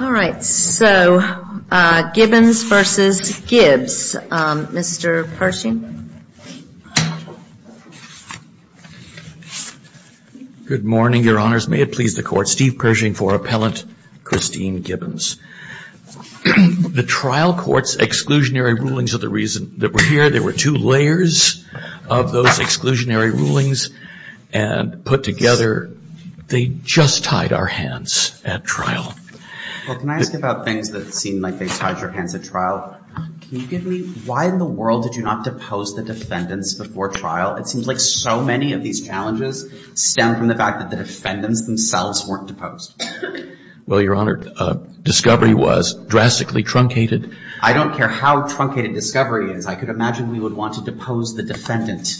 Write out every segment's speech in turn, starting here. All right. So, Gibbons v. Gibbs. Mr. Pershing. Good morning, Your Honors. May it please the Court. Steve Pershing for Appellant Christine Gibbons. The trial court's exclusionary rulings are the reason that we're here. There were two layers of those exclusionary rulings and put together, they just tied our hands at trial. Well, can I ask about things that seem like they've tied your hands at trial? Can you give me, why in the world did you not depose the defendants before trial? It seems like so many of these challenges stem from the fact that the defendants themselves weren't deposed. Well, Your Honor, discovery was drastically truncated. I don't care how truncated discovery is. I could imagine we would want to depose the defendant.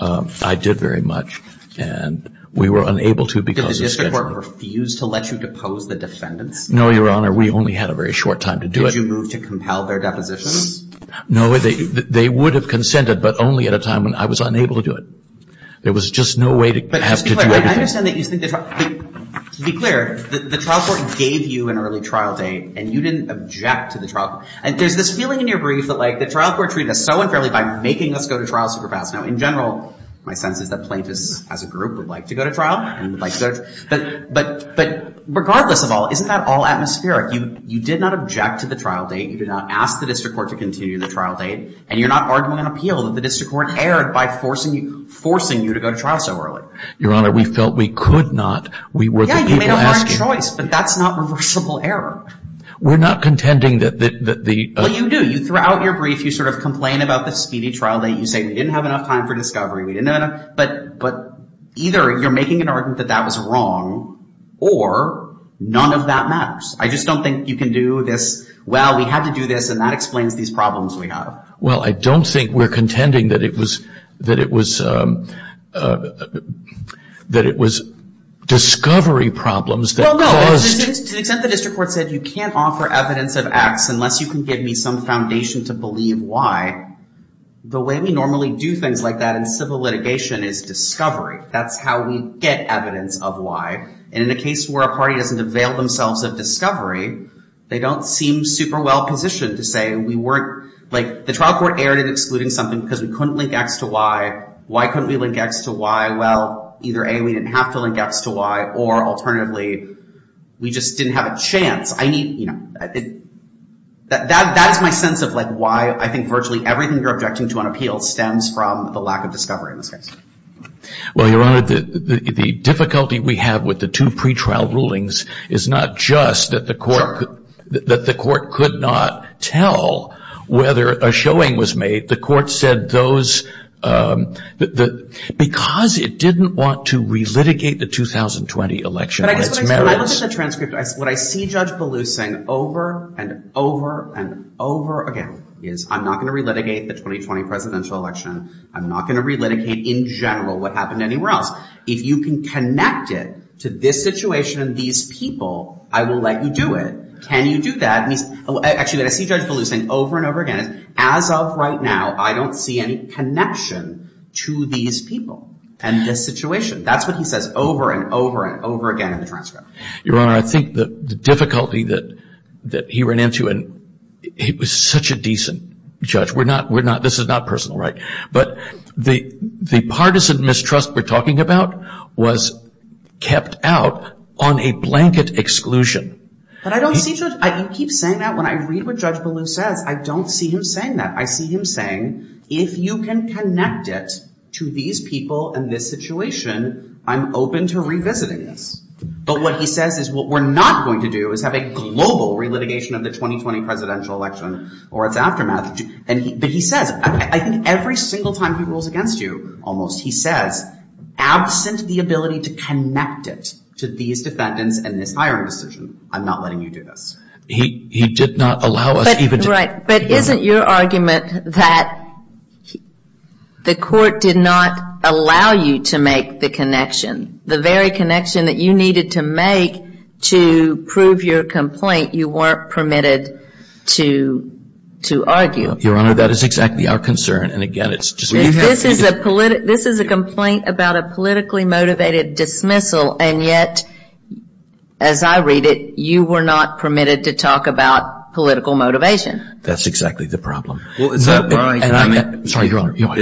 I did very much, and we were unable to because of schedule. Did the district court refuse to let you depose the defendants? No, Your Honor. We only had a very short time to do it. Did you move to compel their depositions? No. They would have consented, but only at a time when I was unable to do it. There was just no way to have to do anything. But to be clear, the trial court gave you an early trial date, and you didn't object to the trial. And there's this feeling in your grief that, like, the trial court treated us so unfairly by making us go to trial super fast. Now, in general, my sense is that plaintiffs as a group would like to go to trial and would like to go to trial. But regardless of all, isn't that all atmospheric? You did not object to the trial date. You did not ask the district court to continue the trial date. And you're not arguing an appeal that the district court erred by forcing you to go to trial so early. Your Honor, we felt we could not. Yeah, you made a hard choice, but that's not reversible error. We're not contending that the— Well, you do. Throughout your grief, you sort of complain about the speedy trial date. You say we didn't have enough time for discovery. But either you're making an argument that that was wrong, or none of that matters. I just don't think you can do this. Well, we had to do this, and that explains these problems we have. Well, I don't think we're contending that it was discovery problems that caused— No, no, no. To the extent the district court said you can't offer evidence of X unless you can give me some foundation to believe Y, the way we normally do things like that in civil litigation is discovery. That's how we get evidence of Y. And in a case where a party doesn't avail themselves of discovery, they don't seem super well-positioned to say we weren't— Like, the trial court erred in excluding something because we couldn't link X to Y. Why couldn't we link X to Y? Well, either A, we didn't have to link X to Y, or alternatively, we just didn't have a chance. That is my sense of why I think virtually everything you're objecting to on appeal stems from the lack of discovery in this case. Well, Your Honor, the difficulty we have with the two pretrial rulings is not just that the court could not tell whether a showing was made. The court said those—because it didn't want to re-litigate the 2020 election on its merits— But I guess when I look at the transcript, what I see Judge Ballou saying over and over and over again is, I'm not going to re-litigate the 2020 presidential election. I'm not going to re-litigate in general what happened anywhere else. If you can connect it to this situation and these people, I will let you do it. Can you do that? Actually, I see Judge Ballou saying over and over again, as of right now, I don't see any connection to these people and this situation. That's what he says over and over and over again in the transcript. Your Honor, I think the difficulty that he ran into—and he was such a decent judge. We're not—this is not personal, right? But the partisan mistrust we're talking about was kept out on a blanket exclusion. But I don't see—you keep saying that. When I read what Judge Ballou says, I don't see him saying that. I see him saying, if you can connect it to these people and this situation, I'm open to revisiting this. But what he says is what we're not going to do is have a global re-litigation of the 2020 presidential election or its aftermath. But he says—I think every single time he rules against you, almost, he says, absent the ability to connect it to these defendants and this hiring decision, I'm not letting you do this. He did not allow us even to— Right. But isn't your argument that the court did not allow you to make the connection, the very connection that you needed to make to prove your complaint, you weren't permitted to argue? Your Honor, that is exactly our concern. And, again, it's just— This is a complaint about a politically motivated dismissal, and yet, as I read it, you were not permitted to talk about political motivation. That's exactly the problem. Well, is that why— I'm sorry, Your Honor.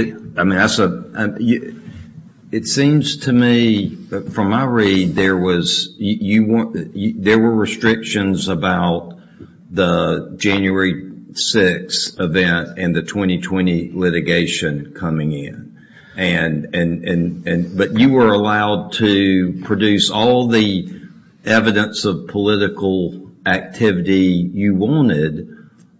It seems to me, from my read, there was—there were restrictions about the January 6 event and the 2020 litigation coming in. But you were allowed to produce all the evidence of political activity you wanted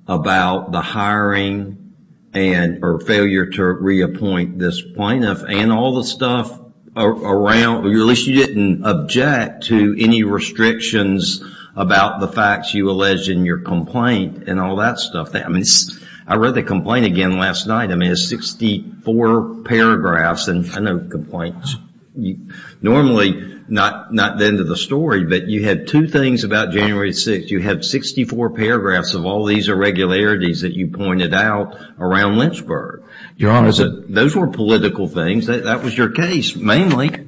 about the hiring and—or failure to reappoint this plaintiff. And all the stuff around—at least you didn't object to any restrictions about the facts you alleged in your complaint and all that stuff. I mean, I read the complaint again last night. I mean, it's 64 paragraphs. And I know complaints. Normally, not the end of the story, but you had two things about January 6. You had 64 paragraphs of all these irregularities that you pointed out around Lynchburg. Your Honor— Those were political things. That was your case, mainly.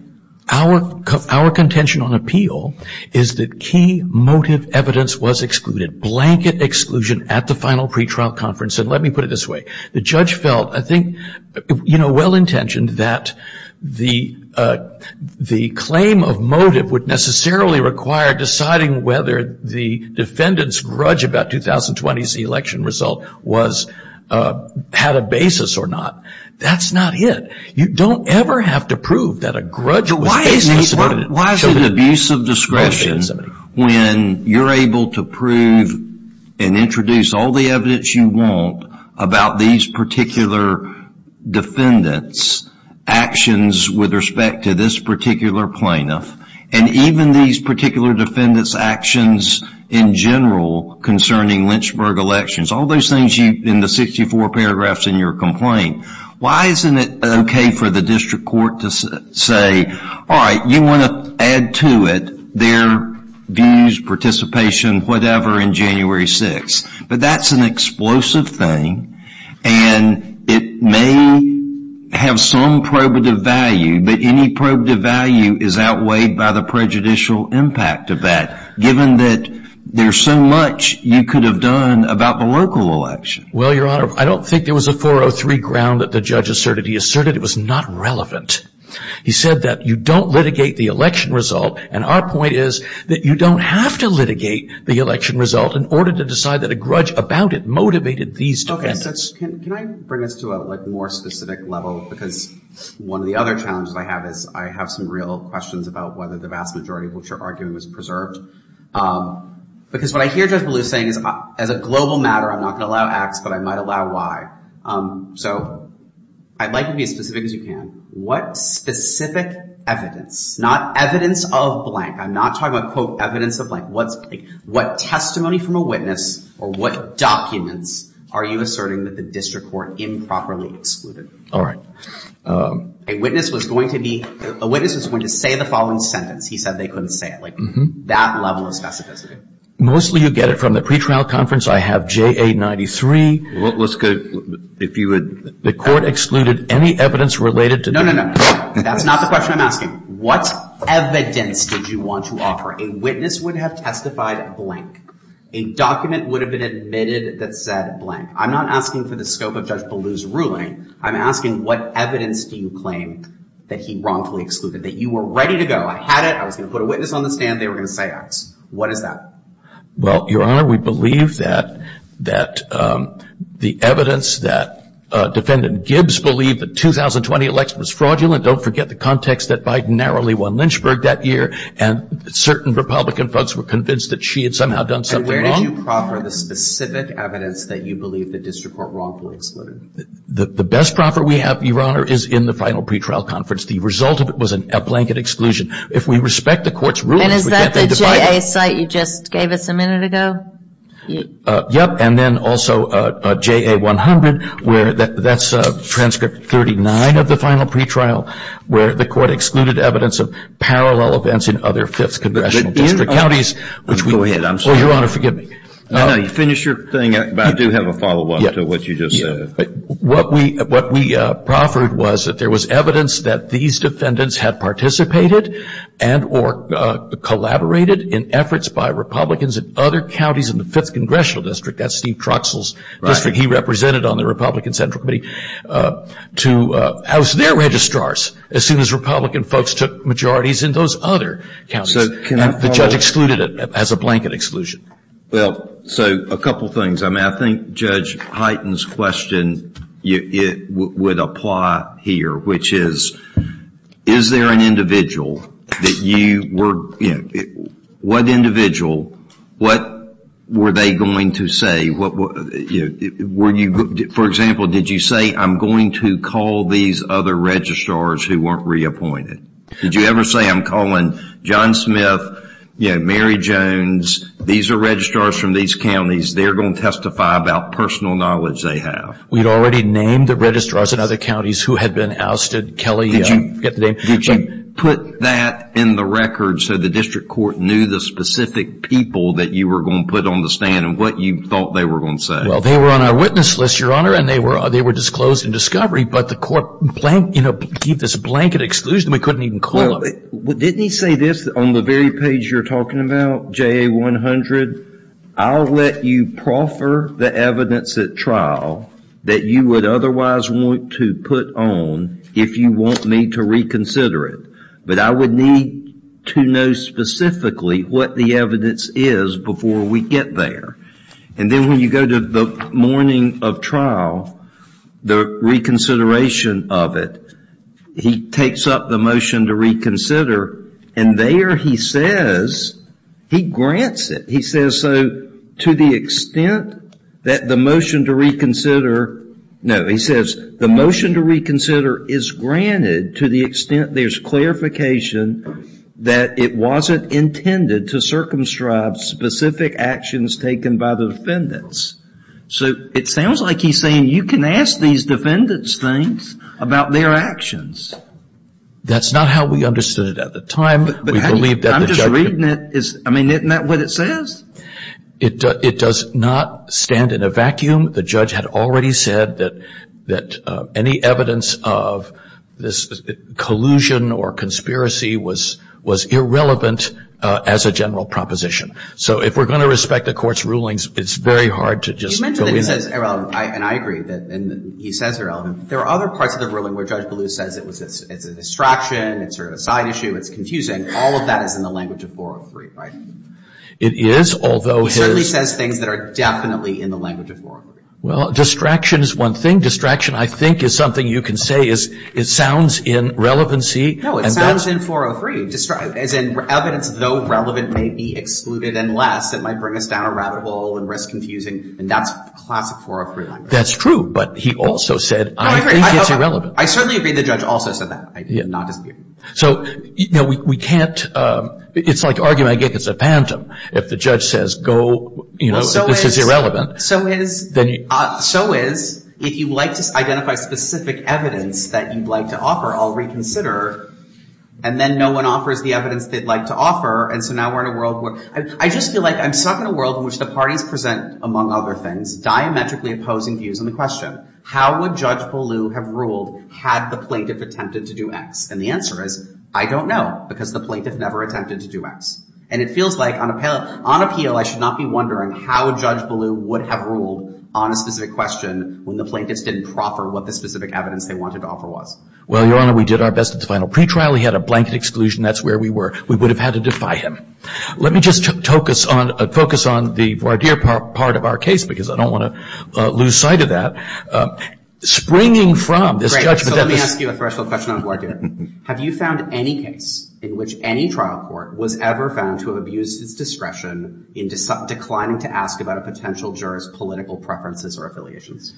I think our contention on appeal is that key motive evidence was excluded. Blanket exclusion at the final pretrial conference. And let me put it this way. The judge felt, I think, you know, well-intentioned that the claim of motive would necessarily require deciding whether the defendant's grudge about 2020's election result was—had a basis or not. That's not it. You don't ever have to prove that a grudge was— Why is it abuse of discretion when you're able to prove and introduce all the evidence you want about these particular defendants' actions with respect to this particular plaintiff? And even these particular defendants' actions in general concerning Lynchburg elections. All those things in the 64 paragraphs in your complaint. Why isn't it okay for the district court to say, all right, you want to add to it their views, participation, whatever, in January 6th? But that's an explosive thing, and it may have some probative value. But any probative value is outweighed by the prejudicial impact of that, given that there's so much you could have done about the local election. Well, Your Honor, I don't think there was a 403 ground that the judge asserted. He asserted it was not relevant. He said that you don't litigate the election result, and our point is that you don't have to litigate the election result in order to decide that a grudge about it motivated these defendants. Okay, so can I bring this to a, like, more specific level? Because one of the other challenges I have is I have some real questions about whether the vast majority of what you're arguing was preserved. Because what I hear Judge Ballou saying is, as a global matter, I'm not going to allow X, but I might allow Y. So I'd like you to be as specific as you can. What specific evidence, not evidence of blank. I'm not talking about, quote, evidence of blank. What testimony from a witness or what documents are you asserting that the district court improperly excluded? All right. A witness was going to say the following sentence. He said they couldn't say it. Like, that level of specificity. Mostly you get it from the pretrial conference. I have JA93. Let's go, if you would. The court excluded any evidence related to that. No, no, no. That's not the question I'm asking. What evidence did you want to offer? A witness would have testified blank. A document would have been admitted that said blank. I'm not asking for the scope of Judge Ballou's ruling. I'm asking what evidence do you claim that he wrongfully excluded, that you were ready to go? I had it. I was going to put a witness on the stand. They were going to say X. What is that? Well, Your Honor, we believe that the evidence that Defendant Gibbs believed the 2020 election was fraudulent. Don't forget the context that Biden narrowly won Lynchburg that year. And certain Republican folks were convinced that she had somehow done something wrong. And where did you proffer the specific evidence that you believe the district court wrongfully excluded? The best proffer we have, Your Honor, is in the final pretrial conference. The result of it was a blanket exclusion. If we respect the court's rulings, we can't be divided. And is that the JA site you just gave us a minute ago? Yep. And then also JA 100, where that's transcript 39 of the final pretrial, where the court excluded evidence of parallel events in other fifth congressional district counties. Go ahead. I'm sorry. Oh, Your Honor, forgive me. No, no. You finish your thing, but I do have a follow-up to what you just said. What we proffered was that there was evidence that these defendants had participated and or collaborated in efforts by Republicans in other counties in the fifth congressional district, that's Steve Troxell's district he represented on the Republican Central Committee, to house their registrars as soon as Republican folks took majorities in those other counties. And the judge excluded it as a blanket exclusion. Well, so a couple things. I mean, I think Judge Hyten's question would apply here, which is, is there an individual that you were, you know, what individual, what were they going to say? For example, did you say, I'm going to call these other registrars who weren't reappointed? Did you ever say, I'm calling John Smith, Mary Jones, these are registrars from these counties, they're going to testify about personal knowledge they have? We'd already named the registrars in other counties who had been ousted. Kelly, I forget the name. Did you put that in the record so the district court knew the specific people that you were going to put on the stand and what you thought they were going to say? Well, they were on our witness list, Your Honor, and they were disclosed in discovery, but the court, you know, gave this blanket exclusion. We couldn't even call them. Well, didn't he say this on the very page you're talking about, JA100? I'll let you proffer the evidence at trial that you would otherwise want to put on if you want me to reconsider it. But I would need to know specifically what the evidence is before we get there. And then when you go to the morning of trial, the reconsideration of it, he takes up the motion to reconsider, and there he says, he grants it. He says, so to the extent that the motion to reconsider, no, he says, the motion to reconsider is granted to the extent there's clarification that it wasn't intended to circumscribe specific actions taken by the defendants. So it sounds like he's saying you can ask these defendants things about their actions. That's not how we understood it at the time. But I'm just reading it. I mean, isn't that what it says? It does not stand in a vacuum. The judge had already said that any evidence of this collusion or conspiracy was irrelevant as a general proposition. So if we're going to respect the court's rulings, it's very hard to just go in there. You mentioned that he says irrelevant, and I agree that he says irrelevant. There are other parts of the ruling where Judge Ballou says it's a distraction, it's sort of a side issue, it's confusing. All of that is in the language of 403, right? It is, although his- He certainly says things that are definitely in the language of 403. Well, distraction is one thing. Distraction, I think, is something you can say is it sounds in relevancy. No, it sounds in 403, as in evidence, though relevant, may be excluded, unless it might bring us down a rabbit hole and risk confusing. And that's classic 403 language. That's true, but he also said I think it's irrelevant. I certainly agree the judge also said that, not dispute. So, you know, we can't, it's like argument against a phantom. If the judge says go, you know, this is irrelevant. So is, if you'd like to identify specific evidence that you'd like to offer, I'll reconsider. And then no one offers the evidence they'd like to offer, and so now we're in a world where, I just feel like I'm stuck in a world in which the parties present, among other things, diametrically opposing views on the question. How would Judge Ballou have ruled had the plaintiff attempted to do X? And the answer is I don't know, because the plaintiff never attempted to do X. And it feels like on appeal I should not be wondering how Judge Ballou would have ruled on a specific question when the plaintiffs didn't proffer what the specific evidence they wanted to offer was. Well, Your Honor, we did our best at the final pretrial. He had a blanket exclusion. That's where we were. We would have had to defy him. Let me just focus on the voir dire part of our case, because I don't want to lose sight of that. Springing from this judgment. So let me ask you a threshold question on voir dire. Have you found any case in which any trial court was ever found to have abused its discretion in declining to ask about a potential juror's political preferences or affiliations?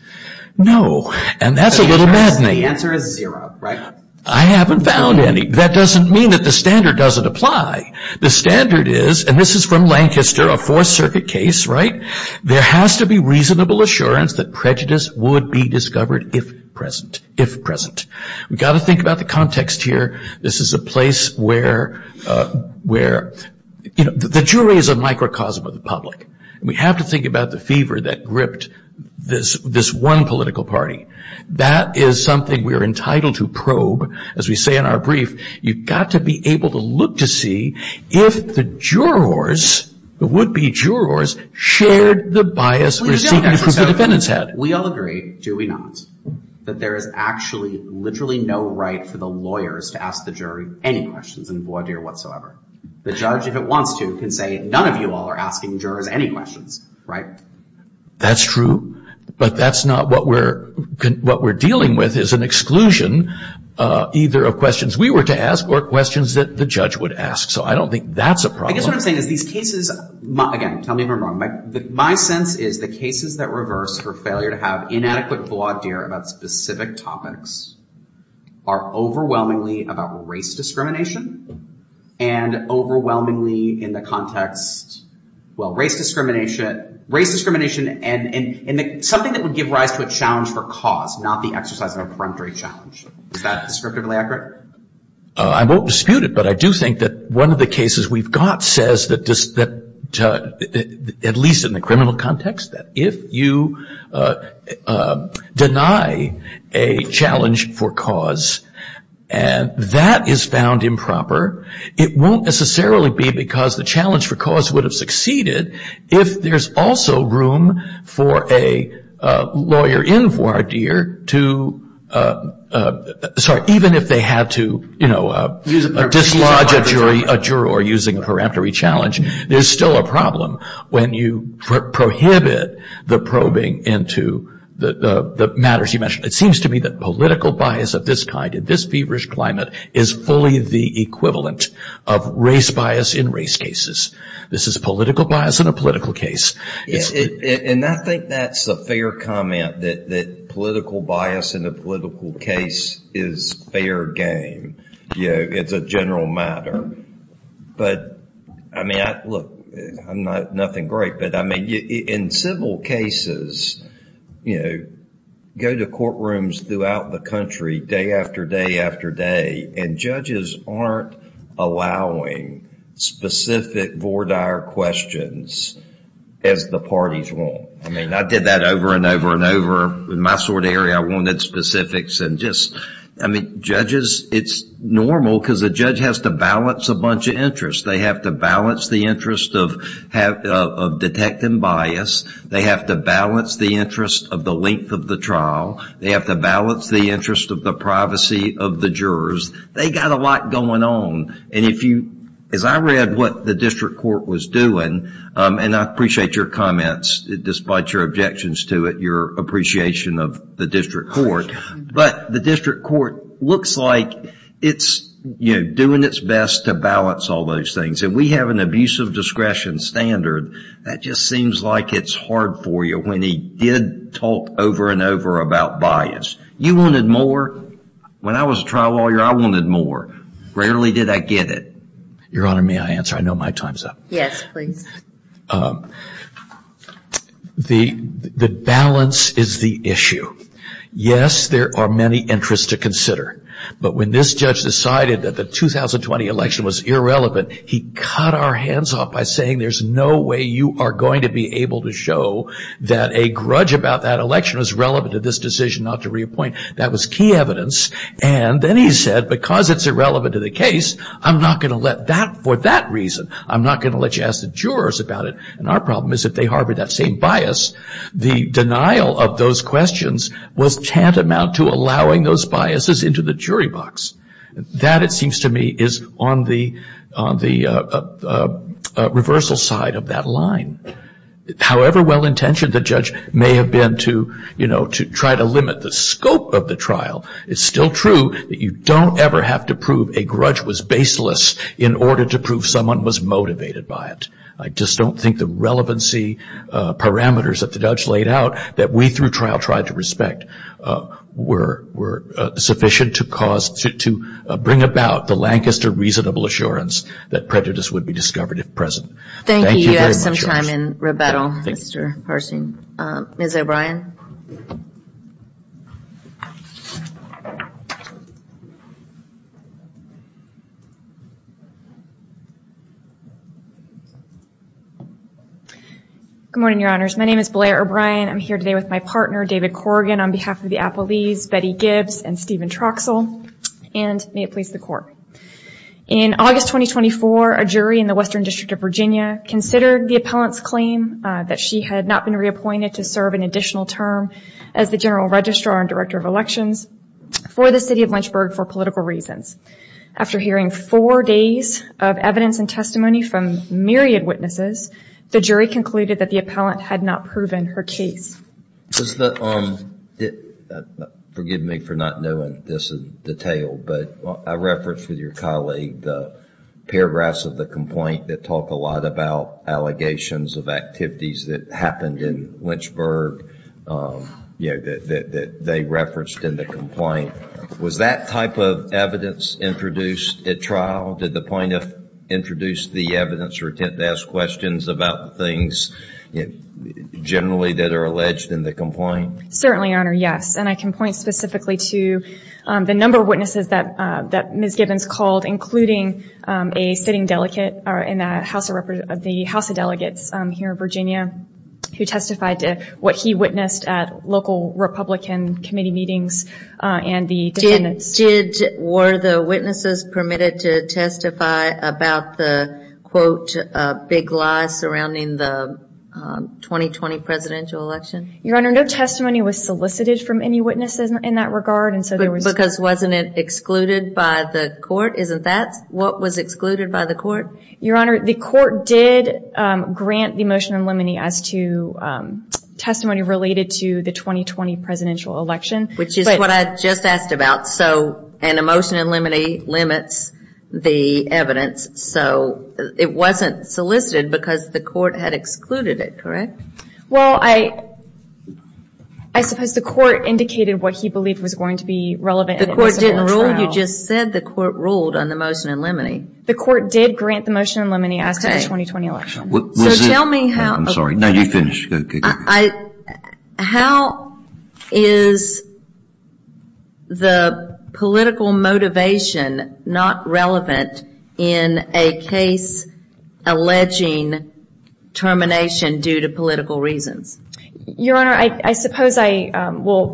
No, and that's a little maddening. The answer is zero, right? I haven't found any. That doesn't mean that the standard doesn't apply. The standard is, and this is from Lancaster, a Fourth Circuit case, right? There has to be reasonable assurance that prejudice would be discovered if present. We've got to think about the context here. This is a place where, you know, the jury is a microcosm of the public. We have to think about the fever that gripped this one political party. That is something we are entitled to probe. As we say in our brief, you've got to be able to look to see if the jurors, the would-be jurors, shared the bias received from the defendant's head. We all agree, do we not, that there is actually literally no right for the lawyers to ask the jury any questions in voir dire whatsoever. The judge, if it wants to, can say none of you all are asking jurors any questions, right? That's true, but that's not what we're dealing with is an exclusion either of questions we were to ask or questions that the judge would ask. So I don't think that's a problem. I guess what I'm saying is these cases, again, tell me if I'm wrong, my sense is the cases that reverse for failure to have inadequate voir dire about specific topics are overwhelmingly about race discrimination and overwhelmingly in the context, well, race discrimination, race discrimination and something that would give rise to a challenge for cause, not the exercise of a preemptory challenge. Is that descriptively accurate? I won't dispute it, but I do think that one of the cases we've got says that at least in the criminal context, that if you deny a challenge for cause and that is found improper, it won't necessarily be because the challenge for cause would have succeeded. If there's also room for a lawyer in voir dire to, sorry, even if they had to dislodge a juror using a preemptory challenge, there's still a problem when you prohibit the probing into the matters you mentioned. It seems to me that political bias of this kind in this feverish climate is fully the equivalent of race bias in race cases. This is political bias in a political case. And I think that's a fair comment that political bias in a political case is fair game. It's a general matter. But, I mean, look, I'm nothing great, but, I mean, in civil cases, go to courtrooms throughout the country day after day after day and judges aren't allowing specific voir dire questions as the parties want. I mean, I did that over and over and over. In my sort of area, I wanted specifics and just, I mean, judges, it's normal because a judge has to balance a bunch of interests. They have to balance the interest of detect and bias. They have to balance the interest of the length of the trial. They have to balance the interest of the privacy of the jurors. They got a lot going on. And if you, as I read what the district court was doing, and I appreciate your comments, despite your objections to it, your appreciation of the district court, but the district court looks like it's, you know, doing its best to balance all those things. And we have an abuse of discretion standard. That just seems like it's hard for you when he did talk over and over about bias. You wanted more. When I was a trial lawyer, I wanted more. Rarely did I get it. Your Honor, may I answer? I know my time's up. Yes, please. The balance is the issue. Yes, there are many interests to consider. But when this judge decided that the 2020 election was irrelevant, he cut our hands off by saying there's no way you are going to be able to show that a grudge about that election is relevant to this decision not to reappoint. That was key evidence. And then he said, because it's irrelevant to the case, I'm not going to let that, for that reason, I'm not going to let you ask the jurors about it. And our problem is if they harbor that same bias, the denial of those questions was tantamount to allowing those biases into the jury box. That, it seems to me, is on the reversal side of that line. However well-intentioned the judge may have been to try to limit the scope of the trial, it's still true that you don't ever have to prove a grudge was baseless in order to prove someone was motivated by it. I just don't think the relevancy parameters that the judge laid out that we, through trial, tried to respect were sufficient to cause, to bring about the Lancaster reasonable assurance that prejudice would be discovered if present. Thank you very much. You have some time in rebuttal, Mr. Harsing. Ms. O'Brien. Good morning, Your Honors. My name is Blair O'Brien. I'm here today with my partner, David Corrigan, on behalf of the Appellees Betty Gibbs and Stephen Troxell. And may it please the Court. In August 2024, a jury in the Western District of Virginia considered the appellant's claim that she had not been reappointed to serve an additional term as the General Registrar and Director of Elections for the City of Lynchburg for political reasons. After hearing four days of evidence and testimony from myriad witnesses, the jury concluded that the appellant had not proven her case. Forgive me for not knowing this in detail, but I referenced with your colleague the paragraphs of the complaint that talk a lot about allegations of activities that happened in Lynchburg that they referenced in the complaint. Was that type of evidence introduced at trial? Did the plaintiff introduce the evidence or attempt to ask questions about things generally that are alleged in the complaint? Certainly, Your Honor, yes. And I can point specifically to the number of witnesses that Ms. Gibbons called, including a sitting delegate in the House of Delegates here in Virginia, who testified to what he witnessed at local Republican committee meetings and the defendants. Were the witnesses permitted to testify about the, quote, big lies surrounding the 2020 presidential election? Your Honor, no testimony was solicited from any witnesses in that regard. Because wasn't it excluded by the court? Isn't that what was excluded by the court? Your Honor, the court did grant the motion in limine as to testimony related to the 2020 presidential election. Which is what I just asked about. And a motion in limine limits the evidence. So it wasn't solicited because the court had excluded it, correct? Well, I suppose the court indicated what he believed was going to be relevant. The court didn't rule. You just said the court ruled on the motion in limine. The court did grant the motion in limine as to the 2020 election. So tell me how. I'm sorry. No, you finish. How is the political motivation not relevant in a case alleging termination due to political reasons? Your Honor, I suppose I will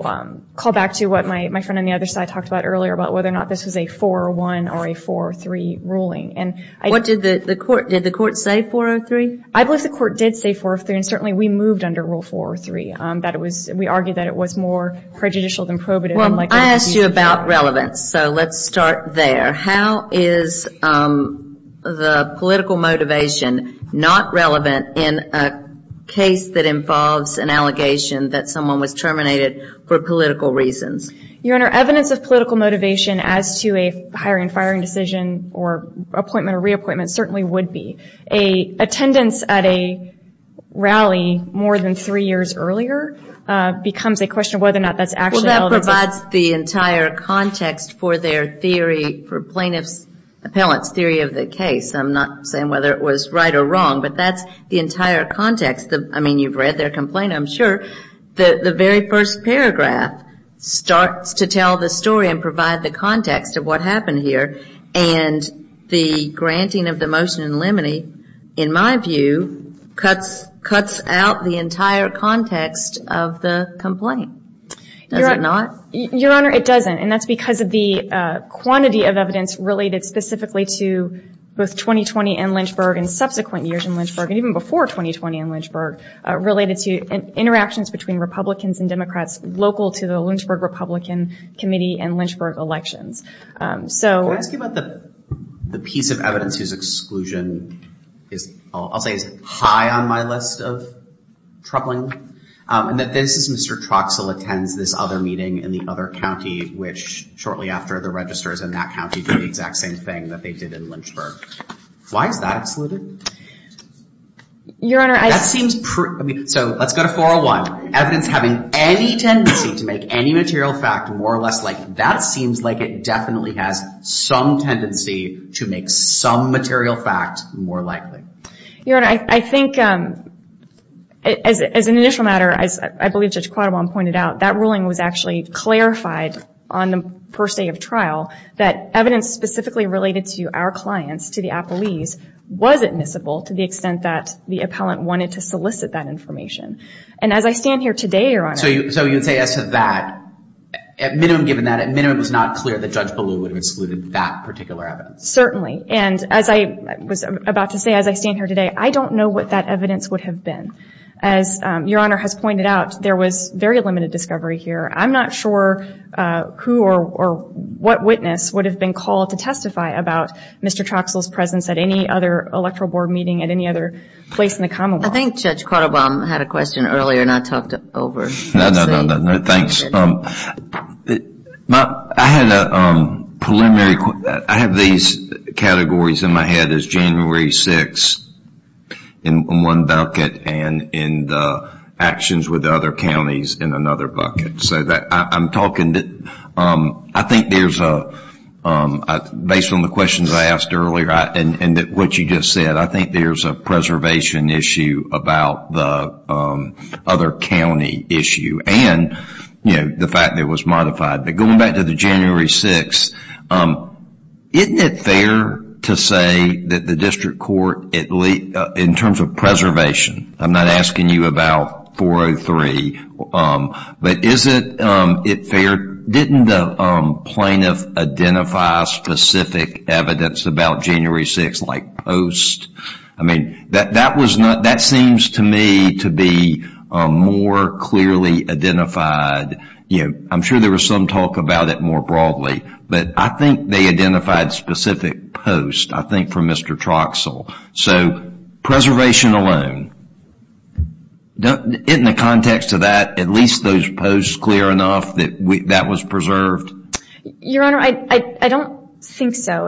call back to what my friend on the other side talked about earlier, about whether or not this was a 4-1 or a 4-3 ruling. What did the court, did the court say 4-3? I believe the court did say 4-3, and certainly we moved under Rule 4-3. We argued that it was more prejudicial than probative. I asked you about relevance, so let's start there. How is the political motivation not relevant in a case that involves an allegation that someone was terminated for political reasons? Your Honor, evidence of political motivation as to a hiring and firing decision or appointment or reappointment certainly would be. Attendance at a rally more than three years earlier becomes a question of whether or not that's actually relevant. Well, that provides the entire context for their theory, for plaintiff's appellant's theory of the case. I'm not saying whether it was right or wrong, but that's the entire context. I mean, you've read their complaint, I'm sure. The very first paragraph starts to tell the story and provide the context of what happened here, and the granting of the motion in limine, in my view, cuts out the entire context of the complaint. Does it not? Your Honor, it doesn't, and that's because of the quantity of evidence related specifically to both 2020 and Lynchburg and subsequent years in Lynchburg and even before 2020 and Lynchburg related to interactions between Republicans and Democrats local to the Lynchburg Republican Committee and Lynchburg elections. Can I ask you about the piece of evidence whose exclusion I'll say is high on my list of troubling? And that this is Mr. Troxell attends this other meeting in the other county, which shortly after the registers in that county did the exact same thing that they did in Lynchburg. Why is that excluded? Your Honor, I— That seems—so let's go to 401. Evidence having any tendency to make any material fact more or less likely. That seems like it definitely has some tendency to make some material fact more likely. Your Honor, I think as an initial matter, as I believe Judge Quattrobon pointed out, that ruling was actually clarified on the first day of trial that evidence specifically related to our clients, to the appellees, was admissible to the extent that the appellant wanted to solicit that information. And as I stand here today, Your Honor— So you would say as to that, at minimum given that, at minimum it was not clear that Judge Ballou would have excluded that particular evidence. Certainly. And as I was about to say, as I stand here today, I don't know what that evidence would have been. As Your Honor has pointed out, there was very limited discovery here. I'm not sure who or what witness would have been called to testify about Mr. Troxell's presence at any other electoral board meeting at any other place in the commonwealth. I think Judge Quattrobon had a question earlier and I talked it over. No, no, no. I had a preliminary question. I have these categories in my head as January 6th in one bucket and in the actions with other counties in another bucket. So I'm talking, I think there's a, based on the questions I asked earlier and what you just said, I think there's a preservation issue about the other county issue and the fact that it was modified. But going back to the January 6th, isn't it fair to say that the district court, in terms of preservation, I'm not asking you about 403, but isn't it fair, didn't the plaintiff identify specific evidence about January 6th, like posts? I mean, that seems to me to be more clearly identified. I'm sure there was some talk about it more broadly, but I think they identified specific posts, I think, from Mr. Troxell. So preservation alone, in the context of that, at least those posts clear enough that that was preserved? Your Honor, I don't think so.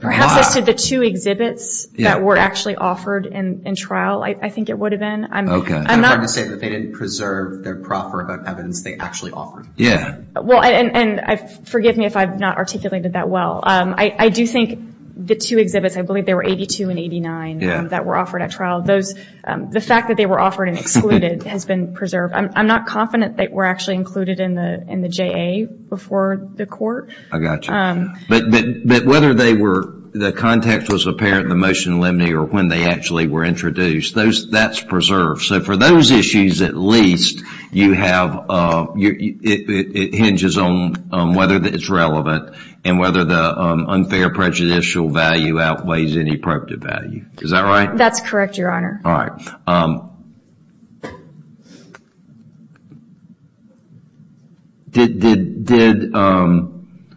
Perhaps as to the two exhibits that were actually offered in trial, I think it would have been. I'm not going to say that they didn't preserve their proffer about evidence they actually offered. Yeah. Well, and forgive me if I've not articulated that well. I do think the two exhibits, I believe they were 82 and 89 that were offered at trial. The fact that they were offered and excluded has been preserved. I'm not confident they were actually included in the JA before the court. I got you. But whether they were, the context was apparent in the motion limine or when they actually were introduced, that's preserved. So for those issues at least, you have, it hinges on whether it's relevant and whether the unfair prejudicial value outweighs any appropriate value. Is that right? That's correct, Your Honor. All right.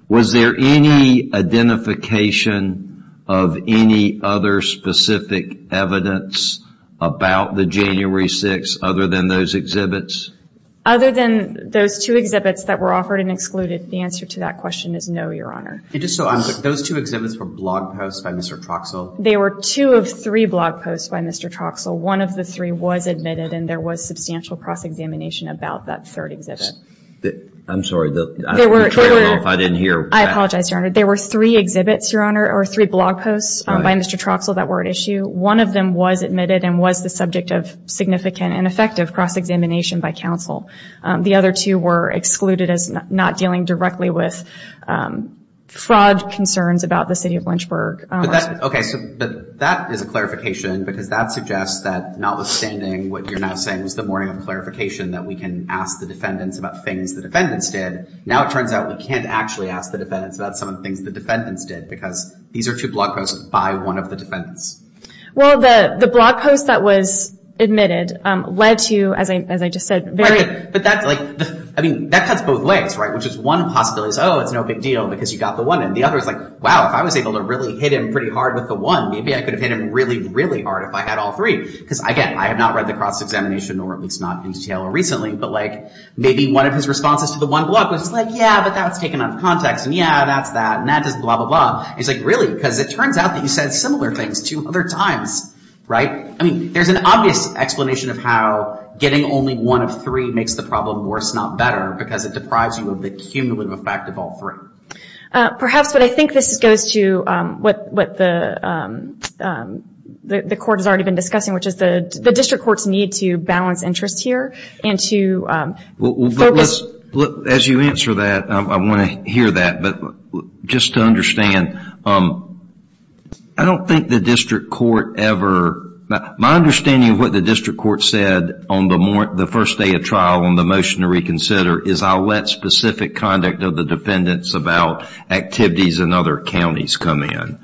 Was there any identification of any other specific evidence about the January 6th other than those exhibits? Other than those two exhibits that were offered and excluded, the answer to that question is no, Your Honor. Those two exhibits were blog posts by Mr. Troxell? They were two of three blog posts by Mr. Troxell. One of the three was admitted and there was substantial cross-examination about that third exhibit. I'm sorry, I don't know if I didn't hear. I apologize, Your Honor. There were three exhibits, Your Honor, or three blog posts by Mr. Troxell that were at issue. One of them was admitted and was the subject of significant and effective cross-examination by counsel. The other two were excluded as not dealing directly with fraud concerns about the city of Lynchburg. Okay, so that is a clarification because that suggests that notwithstanding what you're now saying was the morning of clarification that we can ask the defendants about things the defendants did, now it turns out we can't actually ask the defendants about some of the things the defendants did because these are two blog posts by one of the defendants. Well, the blog post that was admitted led to, as I just said, very— Right, but that's like—I mean, that cuts both ways, right, which is one possibility is, oh, it's no big deal because you got the one, and the other is like, wow, if I was able to really hit him pretty hard with the one, maybe I could have hit him really, really hard if I had all three. Because, again, I have not read the cross-examination, or at least not in detail or recently, but maybe one of his responses to the one blog was like, yeah, but that's taken out of context, and yeah, that's that, and that does blah, blah, blah. And he's like, really, because it turns out that you said similar things two other times, right? I mean, there's an obvious explanation of how getting only one of three makes the problem worse, not better, because it deprives you of the cumulative effect of all three. Perhaps, but I think this goes to what the court has already been discussing, which is the district courts need to balance interests here and to focus— As you answer that, I want to hear that. But just to understand, I don't think the district court ever— my understanding of what the district court said on the first day of trial on the motion to reconsider is I'll let specific conduct of the defendants about activities in other counties come in.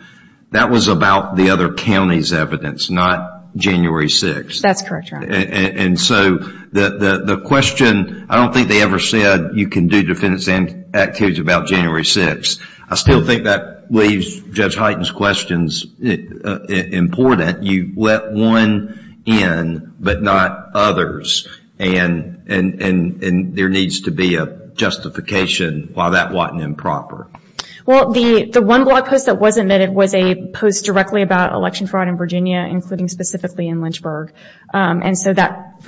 That was about the other counties' evidence, not January 6th. That's correct, Your Honor. And so the question—I don't think they ever said you can do defendants and activities about January 6th. I still think that leaves Judge Highton's questions important. You let one in, but not others. And there needs to be a justification why that wasn't improper. Well, the one blog post that was admitted was a post directly about election fraud in Virginia, including specifically in Lynchburg. And so that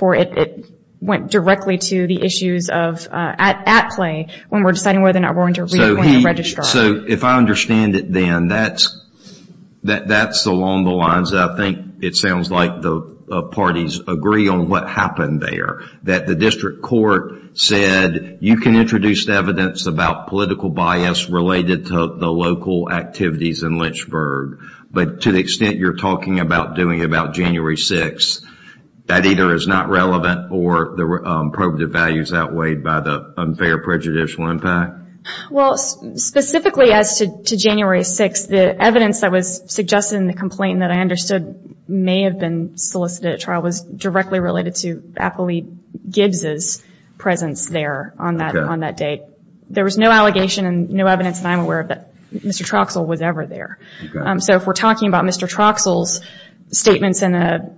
went directly to the issues at play when we're deciding whether or not we're going to reappoint a registrar. So if I understand it then, that's along the lines that I think it sounds like the parties agree on what happened there, that the district court said you can introduce evidence about political bias related to the local activities in Lynchburg. But to the extent you're talking about doing it about January 6th, that either is not relevant or the probative value is outweighed by the unfair prejudicial impact? Well, specifically as to January 6th, the evidence that was suggested in the complaint that I understood may have been solicited at trial was directly related to Apolyte Gibbs' presence there on that date. There was no allegation and no evidence that I'm aware of that Mr. Troxell was ever there. So if we're talking about Mr. Troxell's statements in a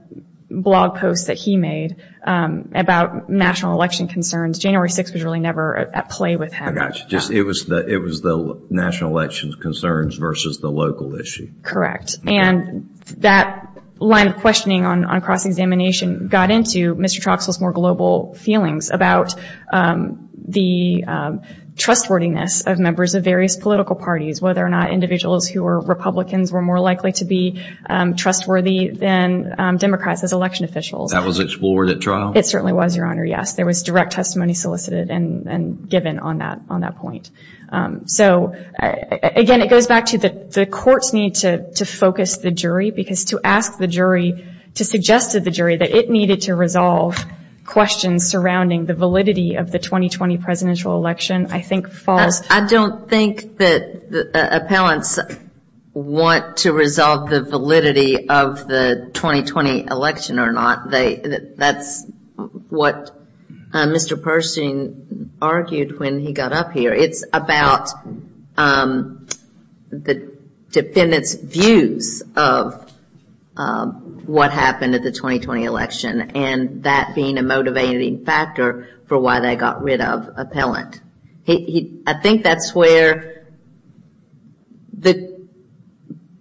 blog post that he made about national election concerns, January 6th was really never at play with him. I got you. It was the national election concerns versus the local issue. And that line of questioning on cross-examination got into Mr. Troxell's more global feelings about the trustworthiness of members of various political parties, whether or not individuals who were Republicans were more likely to be trustworthy than Democrats as election officials. That was explored at trial? It certainly was, Your Honor, yes. There was direct testimony solicited and given on that point. So, again, it goes back to the courts need to focus the jury because to ask the jury, to suggest to the jury that it needed to resolve questions surrounding the validity of the 2020 presidential election I think falls. I don't think that appellants want to resolve the validity of the 2020 election or not. That's what Mr. Pershing argued when he got up here. It's about the defendant's views of what happened at the 2020 election and that being a motivating factor for why they got rid of appellant. I think that's where,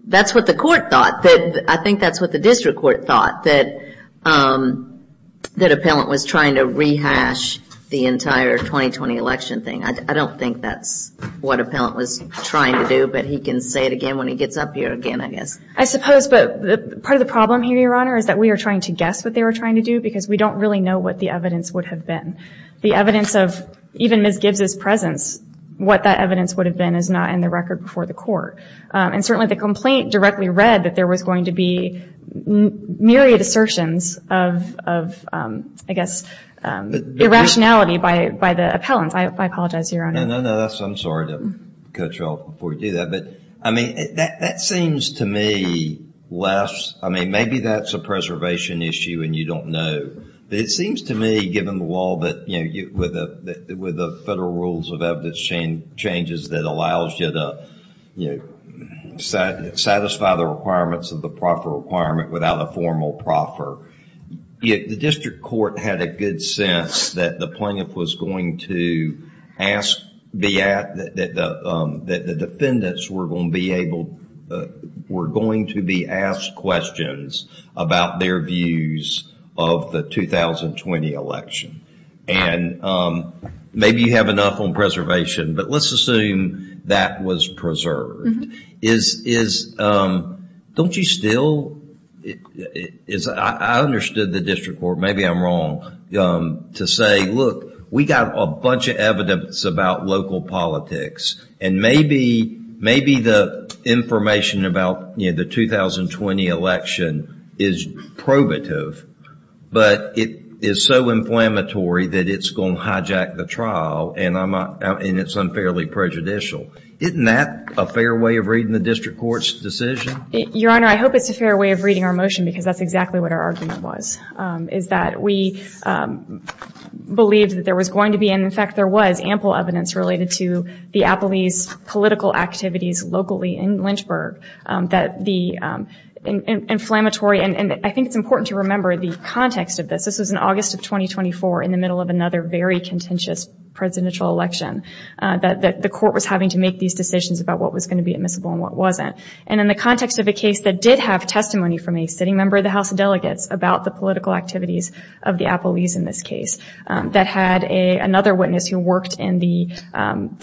that's what the court thought. I think that's what the district court thought, that appellant was trying to rehash the entire 2020 election thing. I don't think that's what appellant was trying to do, but he can say it again when he gets up here again, I guess. I suppose, but part of the problem here, Your Honor, is that we are trying to guess what they were trying to do because we don't really know what the evidence would have been. The evidence of even Ms. Gibbs' presence, what that evidence would have been is not in the record before the court. Certainly, the complaint directly read that there was going to be myriad assertions of, I guess, irrationality by the appellants. I apologize, Your Honor. No, no, no. I'm sorry to cut you off before you do that. I mean, that seems to me less, I mean, maybe that's a preservation issue and you don't know. It seems to me, given the law, with the federal rules of evidence changes that allows you to satisfy the requirements of the proffer requirement without a formal proffer, the district court had a good sense that the plaintiff was going to ask, that the defendants were going to be asked questions about their views of the 2020 election. Maybe you have enough on preservation, but let's assume that was preserved. Don't you still, I understood the district court, maybe I'm wrong, to say, look, we got a bunch of evidence about local politics and maybe the information about the 2020 election is probative, but it is so inflammatory that it's going to hijack the trial and it's unfairly prejudicial. Isn't that a fair way of reading the district court's decision? Your Honor, I hope it's a fair way of reading our motion because that's exactly what our argument was, is that we believed that there was going to be, and, in fact, there was ample evidence related to the Appalese political activities locally in Lynchburg, that the inflammatory, and I think it's important to remember the context of this. This was in August of 2024 in the middle of another very contentious presidential election, that the court was having to make these decisions about what was going to be admissible and what wasn't. And in the context of a case that did have testimony from a sitting member of the House of Delegates about the political activities of the Appalese in this case, that had another witness who worked in the...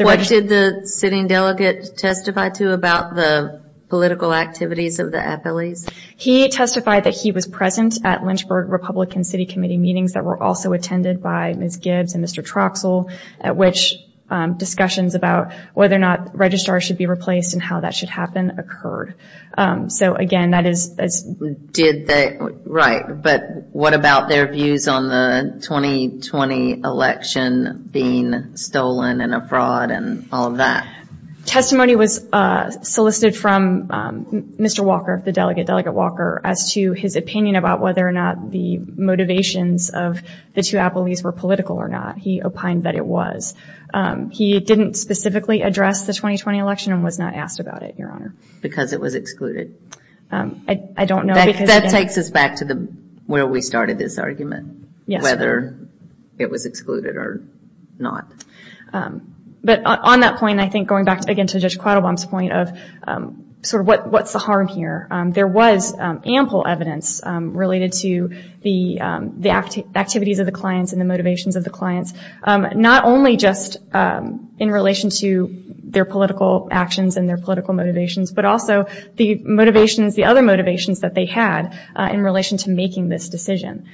What did the sitting delegate testify to about the political activities of the Appalese? He testified that he was present at Lynchburg Republican City Committee meetings that were also attended by Ms. Gibbs and Mr. Troxell, at which discussions about whether or not registrars should be replaced and how that should happen occurred. So, again, that is... Right, but what about their views on the 2020 election being stolen and a fraud and all of that? Testimony was solicited from Mr. Walker, the delegate, Delegate Walker, as to his opinion about whether or not the motivations of the two Appalese were political or not. He opined that it was. He didn't specifically address the 2020 election and was not asked about it, Your Honor. Because it was excluded. I don't know because... That takes us back to where we started this argument. Yes. Whether it was excluded or not. But on that point, I think going back again to Judge Quattlebaum's point of sort of what's the harm here, there was ample evidence related to the activities of the clients and the motivations of the clients, not only just in relation to their political actions and their political motivations, but also the motivations, the other motivations that they had in relation to making this decision.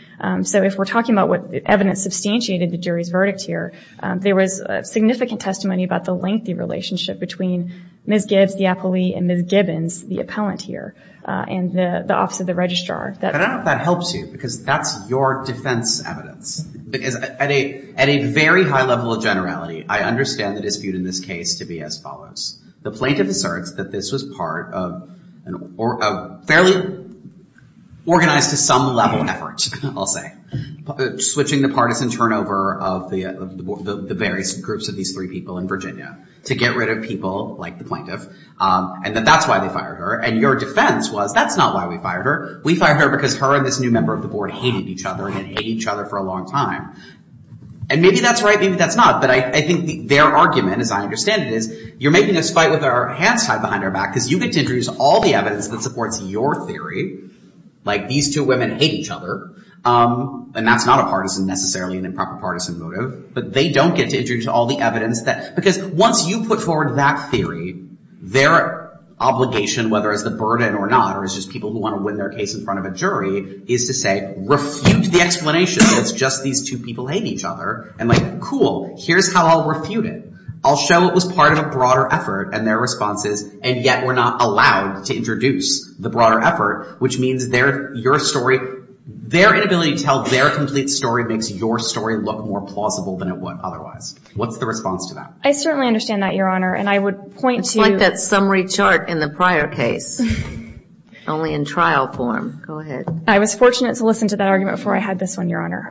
So if we're talking about what evidence substantiated the jury's verdict here, there was significant testimony about the lengthy relationship between Ms. Gibbs, the Appalee, and Ms. Gibbons, the appellant here, and the Office of the Registrar. But I don't know if that helps you because that's your defense evidence. Because at a very high level of generality, I understand the dispute in this case to be as follows. The plaintiff asserts that this was part of a fairly organized to some level effort, I'll say, switching the partisan turnover of the various groups of these three people in Virginia to get rid of people like the plaintiff, and that that's why they fired her. And your defense was that's not why we fired her. We fired her because her and this new member of the board hated each other and had hated each other for a long time. And maybe that's right, maybe that's not. But I think their argument, as I understand it, is you're making us fight with our hands tied behind our back because you get to introduce all the evidence that supports your theory, like these two women hate each other, and that's not a partisan, necessarily an improper partisan motive, but they don't get to introduce all the evidence. Because once you put forward that theory, their obligation, whether it's the burden or not, or it's just people who want to win their case in front of a jury, is to say, refute the explanation that it's just these two people hate each other. And like, cool, here's how I'll refute it. I'll show it was part of a broader effort, and their response is, and yet we're not allowed to introduce the broader effort, which means their story, their inability to tell their complete story makes your story look more plausible than it would otherwise. What's the response to that? I certainly understand that, Your Honor, and I would point to— It's like that summary chart in the prior case, only in trial form. Go ahead. I was fortunate to listen to that argument before I had this one, Your Honor.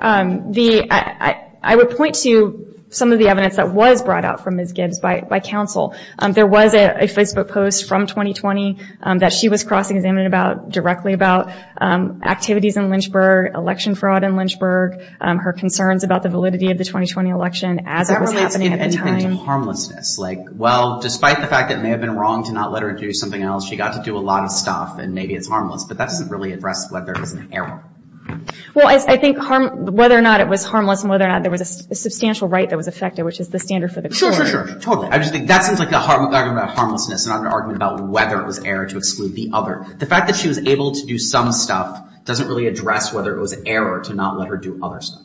I would point to some of the evidence that was brought out from Ms. Gibbs by counsel. There was a Facebook post from 2020 that she was cross-examined about, directly about activities in Lynchburg, election fraud in Lynchburg, her concerns about the validity of the 2020 election as it was happening at the time. Does that really give anything to harmlessness? Like, well, despite the fact that it may have been wrong to not let her do something else, she got to do a lot of stuff, and maybe it's harmless, but that doesn't really address whether it was an error. Well, I think whether or not it was harmless and whether or not there was a substantial right that was affected, which is the standard for the court. Sure, sure, sure. Totally. I just think that seems like an argument about harmlessness and not an argument about whether it was error to exclude the other. The fact that she was able to do some stuff doesn't really address whether it was error to not let her do other stuff.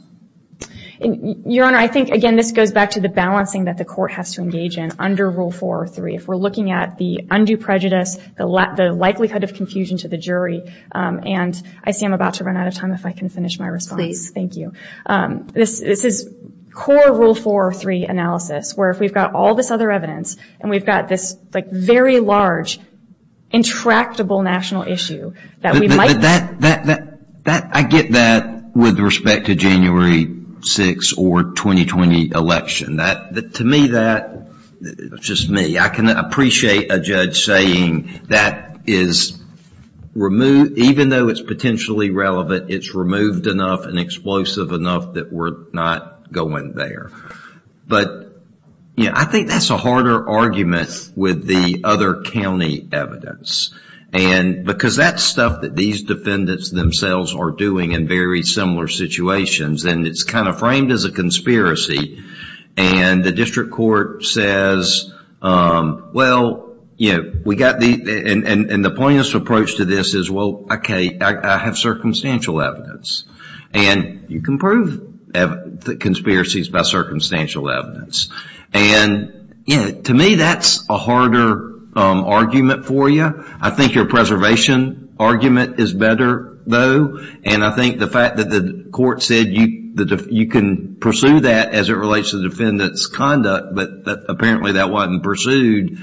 Your Honor, I think, again, this goes back to the balancing that the court has to engage in under Rule 4 or 3. If we're looking at the undue prejudice, the likelihood of confusion to the jury, and I see I'm about to run out of time if I can finish my response. This is core Rule 4 or 3 analysis, where if we've got all this other evidence and we've got this, like, very large, intractable national issue that we might... But that, that, that, that, I get that with respect to January 6th or 2020 election. That, to me, that, just me, I can appreciate a judge saying that is removed, even though it's potentially relevant, it's removed enough and explosive enough that we're not going there. But, you know, I think that's a harder argument with the other county evidence. And because that's stuff that these defendants themselves are doing in very similar situations, and it's kind of framed as a conspiracy. And the district court says, well, you know, we got the... And the plaintiff's approach to this is, well, okay, I have circumstantial evidence. And you can prove conspiracies by circumstantial evidence. And, you know, to me, that's a harder argument for you. I think your preservation argument is better, though. And I think the fact that the court said you can pursue that as it relates to the defendant's conduct, but apparently that wasn't pursued,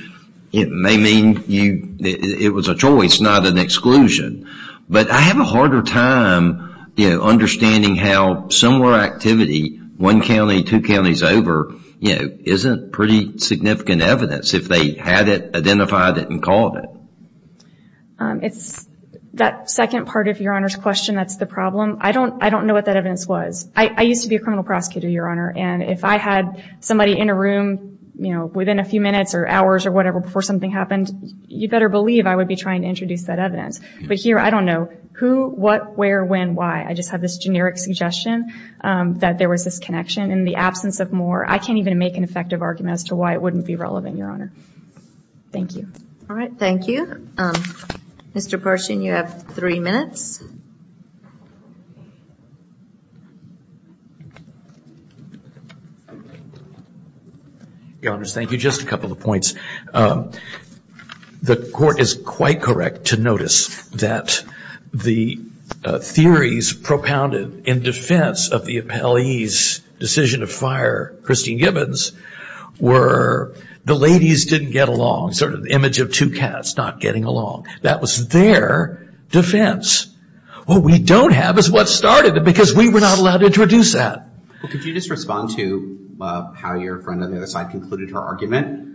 it may mean it was a choice, not an exclusion. But I have a harder time, you know, understanding how similar activity, one county, two counties over, you know, isn't pretty significant evidence if they had it, identified it, and called it. It's that second part of Your Honor's question that's the problem. I don't know what that evidence was. I used to be a criminal prosecutor, Your Honor, and if I had somebody in a room, you know, within a few minutes or hours or whatever before something happened, you better believe I would be trying to introduce that evidence. But here, I don't know who, what, where, when, why. I just have this generic suggestion that there was this connection. In the absence of more, I can't even make an effective argument as to why it wouldn't be relevant, Your Honor. Thank you. All right. Thank you. Mr. Parson, you have three minutes. Your Honors, thank you. Just a couple of points. The Court is quite correct to notice that the theories propounded in defense of the appellee's decision to fire Christine Gibbons were the ladies didn't get along, sort of the image of two cats not getting along. That was their defense. What we don't have is what started it because we were not allowed to introduce that. Well, could you just respond to how your friend on the other side concluded her argument?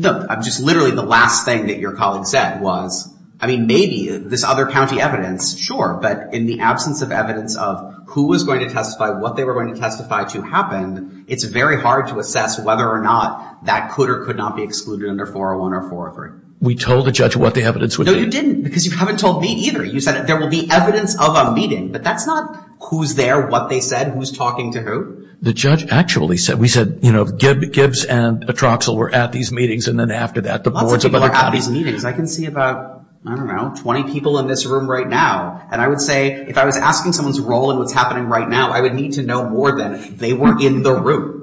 Just literally the last thing that your colleague said was, I mean, maybe this other county evidence, sure, but in the absence of evidence of who was going to testify, what they were going to testify to happened, it's very hard to assess whether or not that could or could not be excluded under 401 or 403. We told the judge what the evidence would be. No, you didn't because you haven't told me either. You said there will be evidence of a meeting, but that's not who's there, what they said, who's talking to who. The judge actually said, we said, you know, Gibbs and Atroxel were at these meetings and then after that the boards of other counties. Lots of people were at these meetings. I can see about, I don't know, 20 people in this room right now, and I would say, if I was asking someone's role in what's happening right now, I would need to know more than they were in the room.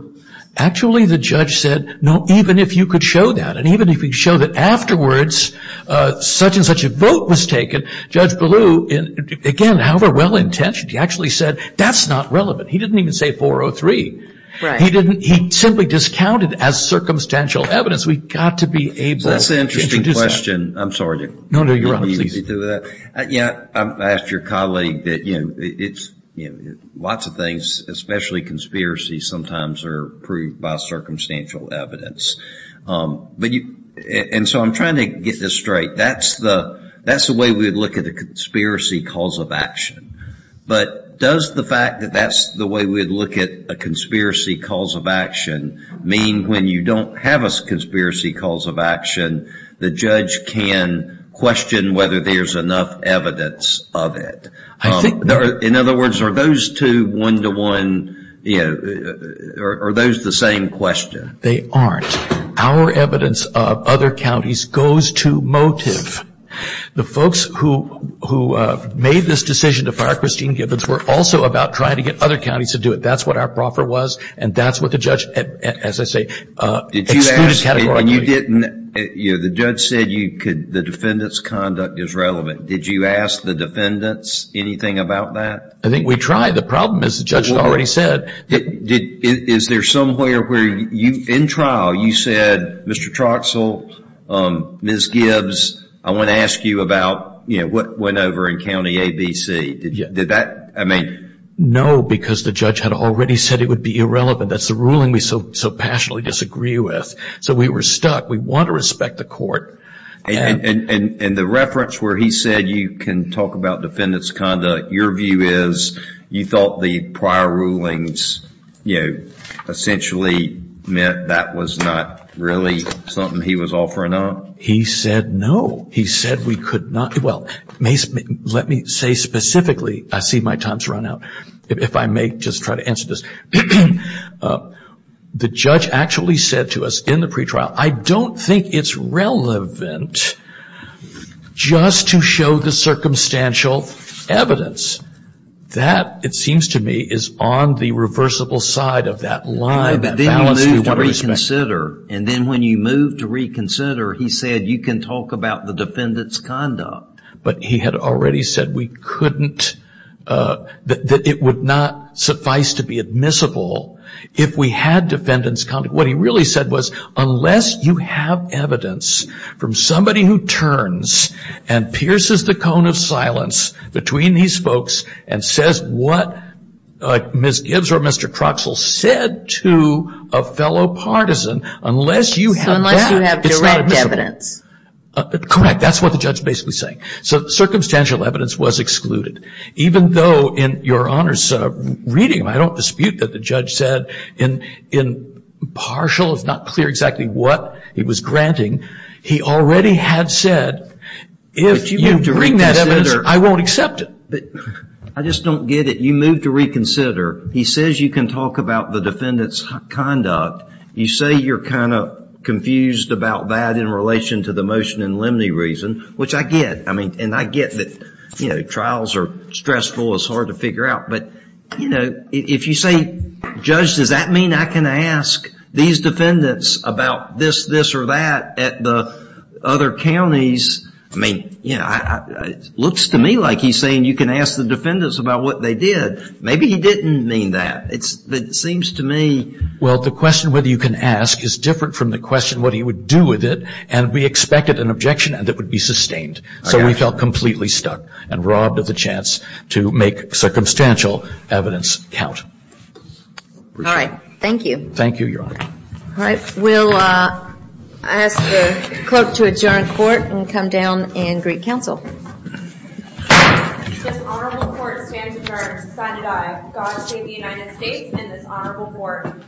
Actually, the judge said, no, even if you could show that, and even if you could show that afterwards such and such a vote was taken, Judge Ballou, again, however well-intentioned, he actually said, that's not relevant. He didn't even say 403. He simply discounted as circumstantial evidence. We've got to be able to introduce that. That's an interesting question. I'm sorry. No, no, you're all right. Yeah, I asked your colleague that, you know, lots of things, especially conspiracies, sometimes are proved by circumstantial evidence. And so I'm trying to get this straight. That's the way we would look at a conspiracy cause of action. But does the fact that that's the way we would look at a conspiracy cause of action mean when you don't have a conspiracy cause of action, the judge can question whether there's enough evidence of it? In other words, are those two one-to-one, you know, are those the same question? They aren't. Our evidence of other counties goes to motive. The folks who made this decision to fire Christine Gibbons were also about trying to get other counties to do it. That's what our proffer was, and that's what the judge, as I say, excluded categorically. And you didn't, you know, the judge said you could, the defendant's conduct is relevant. Did you ask the defendants anything about that? I think we tried. The problem is the judge had already said. Is there somewhere where you, in trial, you said, Mr. Troxell, Ms. Gibbs, I want to ask you about, you know, what went over in County ABC. Did that, I mean. No, because the judge had already said it would be irrelevant. That's the ruling we so passionately disagree with. So we were stuck. We want to respect the court. And the reference where he said you can talk about defendant's conduct, your view is you thought the prior rulings, you know, essentially meant that was not really something he was offering up? He said no. He said we could not, well, let me say specifically, I see my time's run out. If I may just try to answer this. The judge actually said to us in the pretrial, I don't think it's relevant just to show the circumstantial evidence. That, it seems to me, is on the reversible side of that line. Then you move to reconsider. And then when you move to reconsider, he said you can talk about the defendant's conduct. But he had already said we couldn't, that it would not suffice to be admissible if we had defendant's conduct. What he really said was unless you have evidence from somebody who turns and pierces the cone of silence between these folks and says what Ms. Gibbs or Mr. Croxall said to a fellow partisan, unless you have that, it's not admissible. So unless you have direct evidence. Correct. That's what the judge is basically saying. So circumstantial evidence was excluded. Even though in your Honor's reading, I don't dispute that the judge said in partial, it's not clear exactly what he was granting. He already had said if you bring that evidence, I won't accept it. I just don't get it. You move to reconsider. He says you can talk about the defendant's conduct. You say you're kind of confused about that in relation to the motion in Lemney reason, which I get. I mean, and I get that, you know, trials are stressful. It's hard to figure out. But, you know, if you say, Judge, does that mean I can ask these defendants about this, this or that at the other counties? I mean, you know, it looks to me like he's saying you can ask the defendants about what they did. Maybe he didn't mean that. It seems to me. Well, the question whether you can ask is different from the question what he would do with it. And we expected an objection that would be sustained. So we felt completely stuck and robbed of the chance to make circumstantial evidence count. All right. Thank you. Thank you, Your Honor. All right. We'll ask the clerk to adjourn court and come down and greet counsel. This honorable court stands adjourned. God save the United States and this honorable court.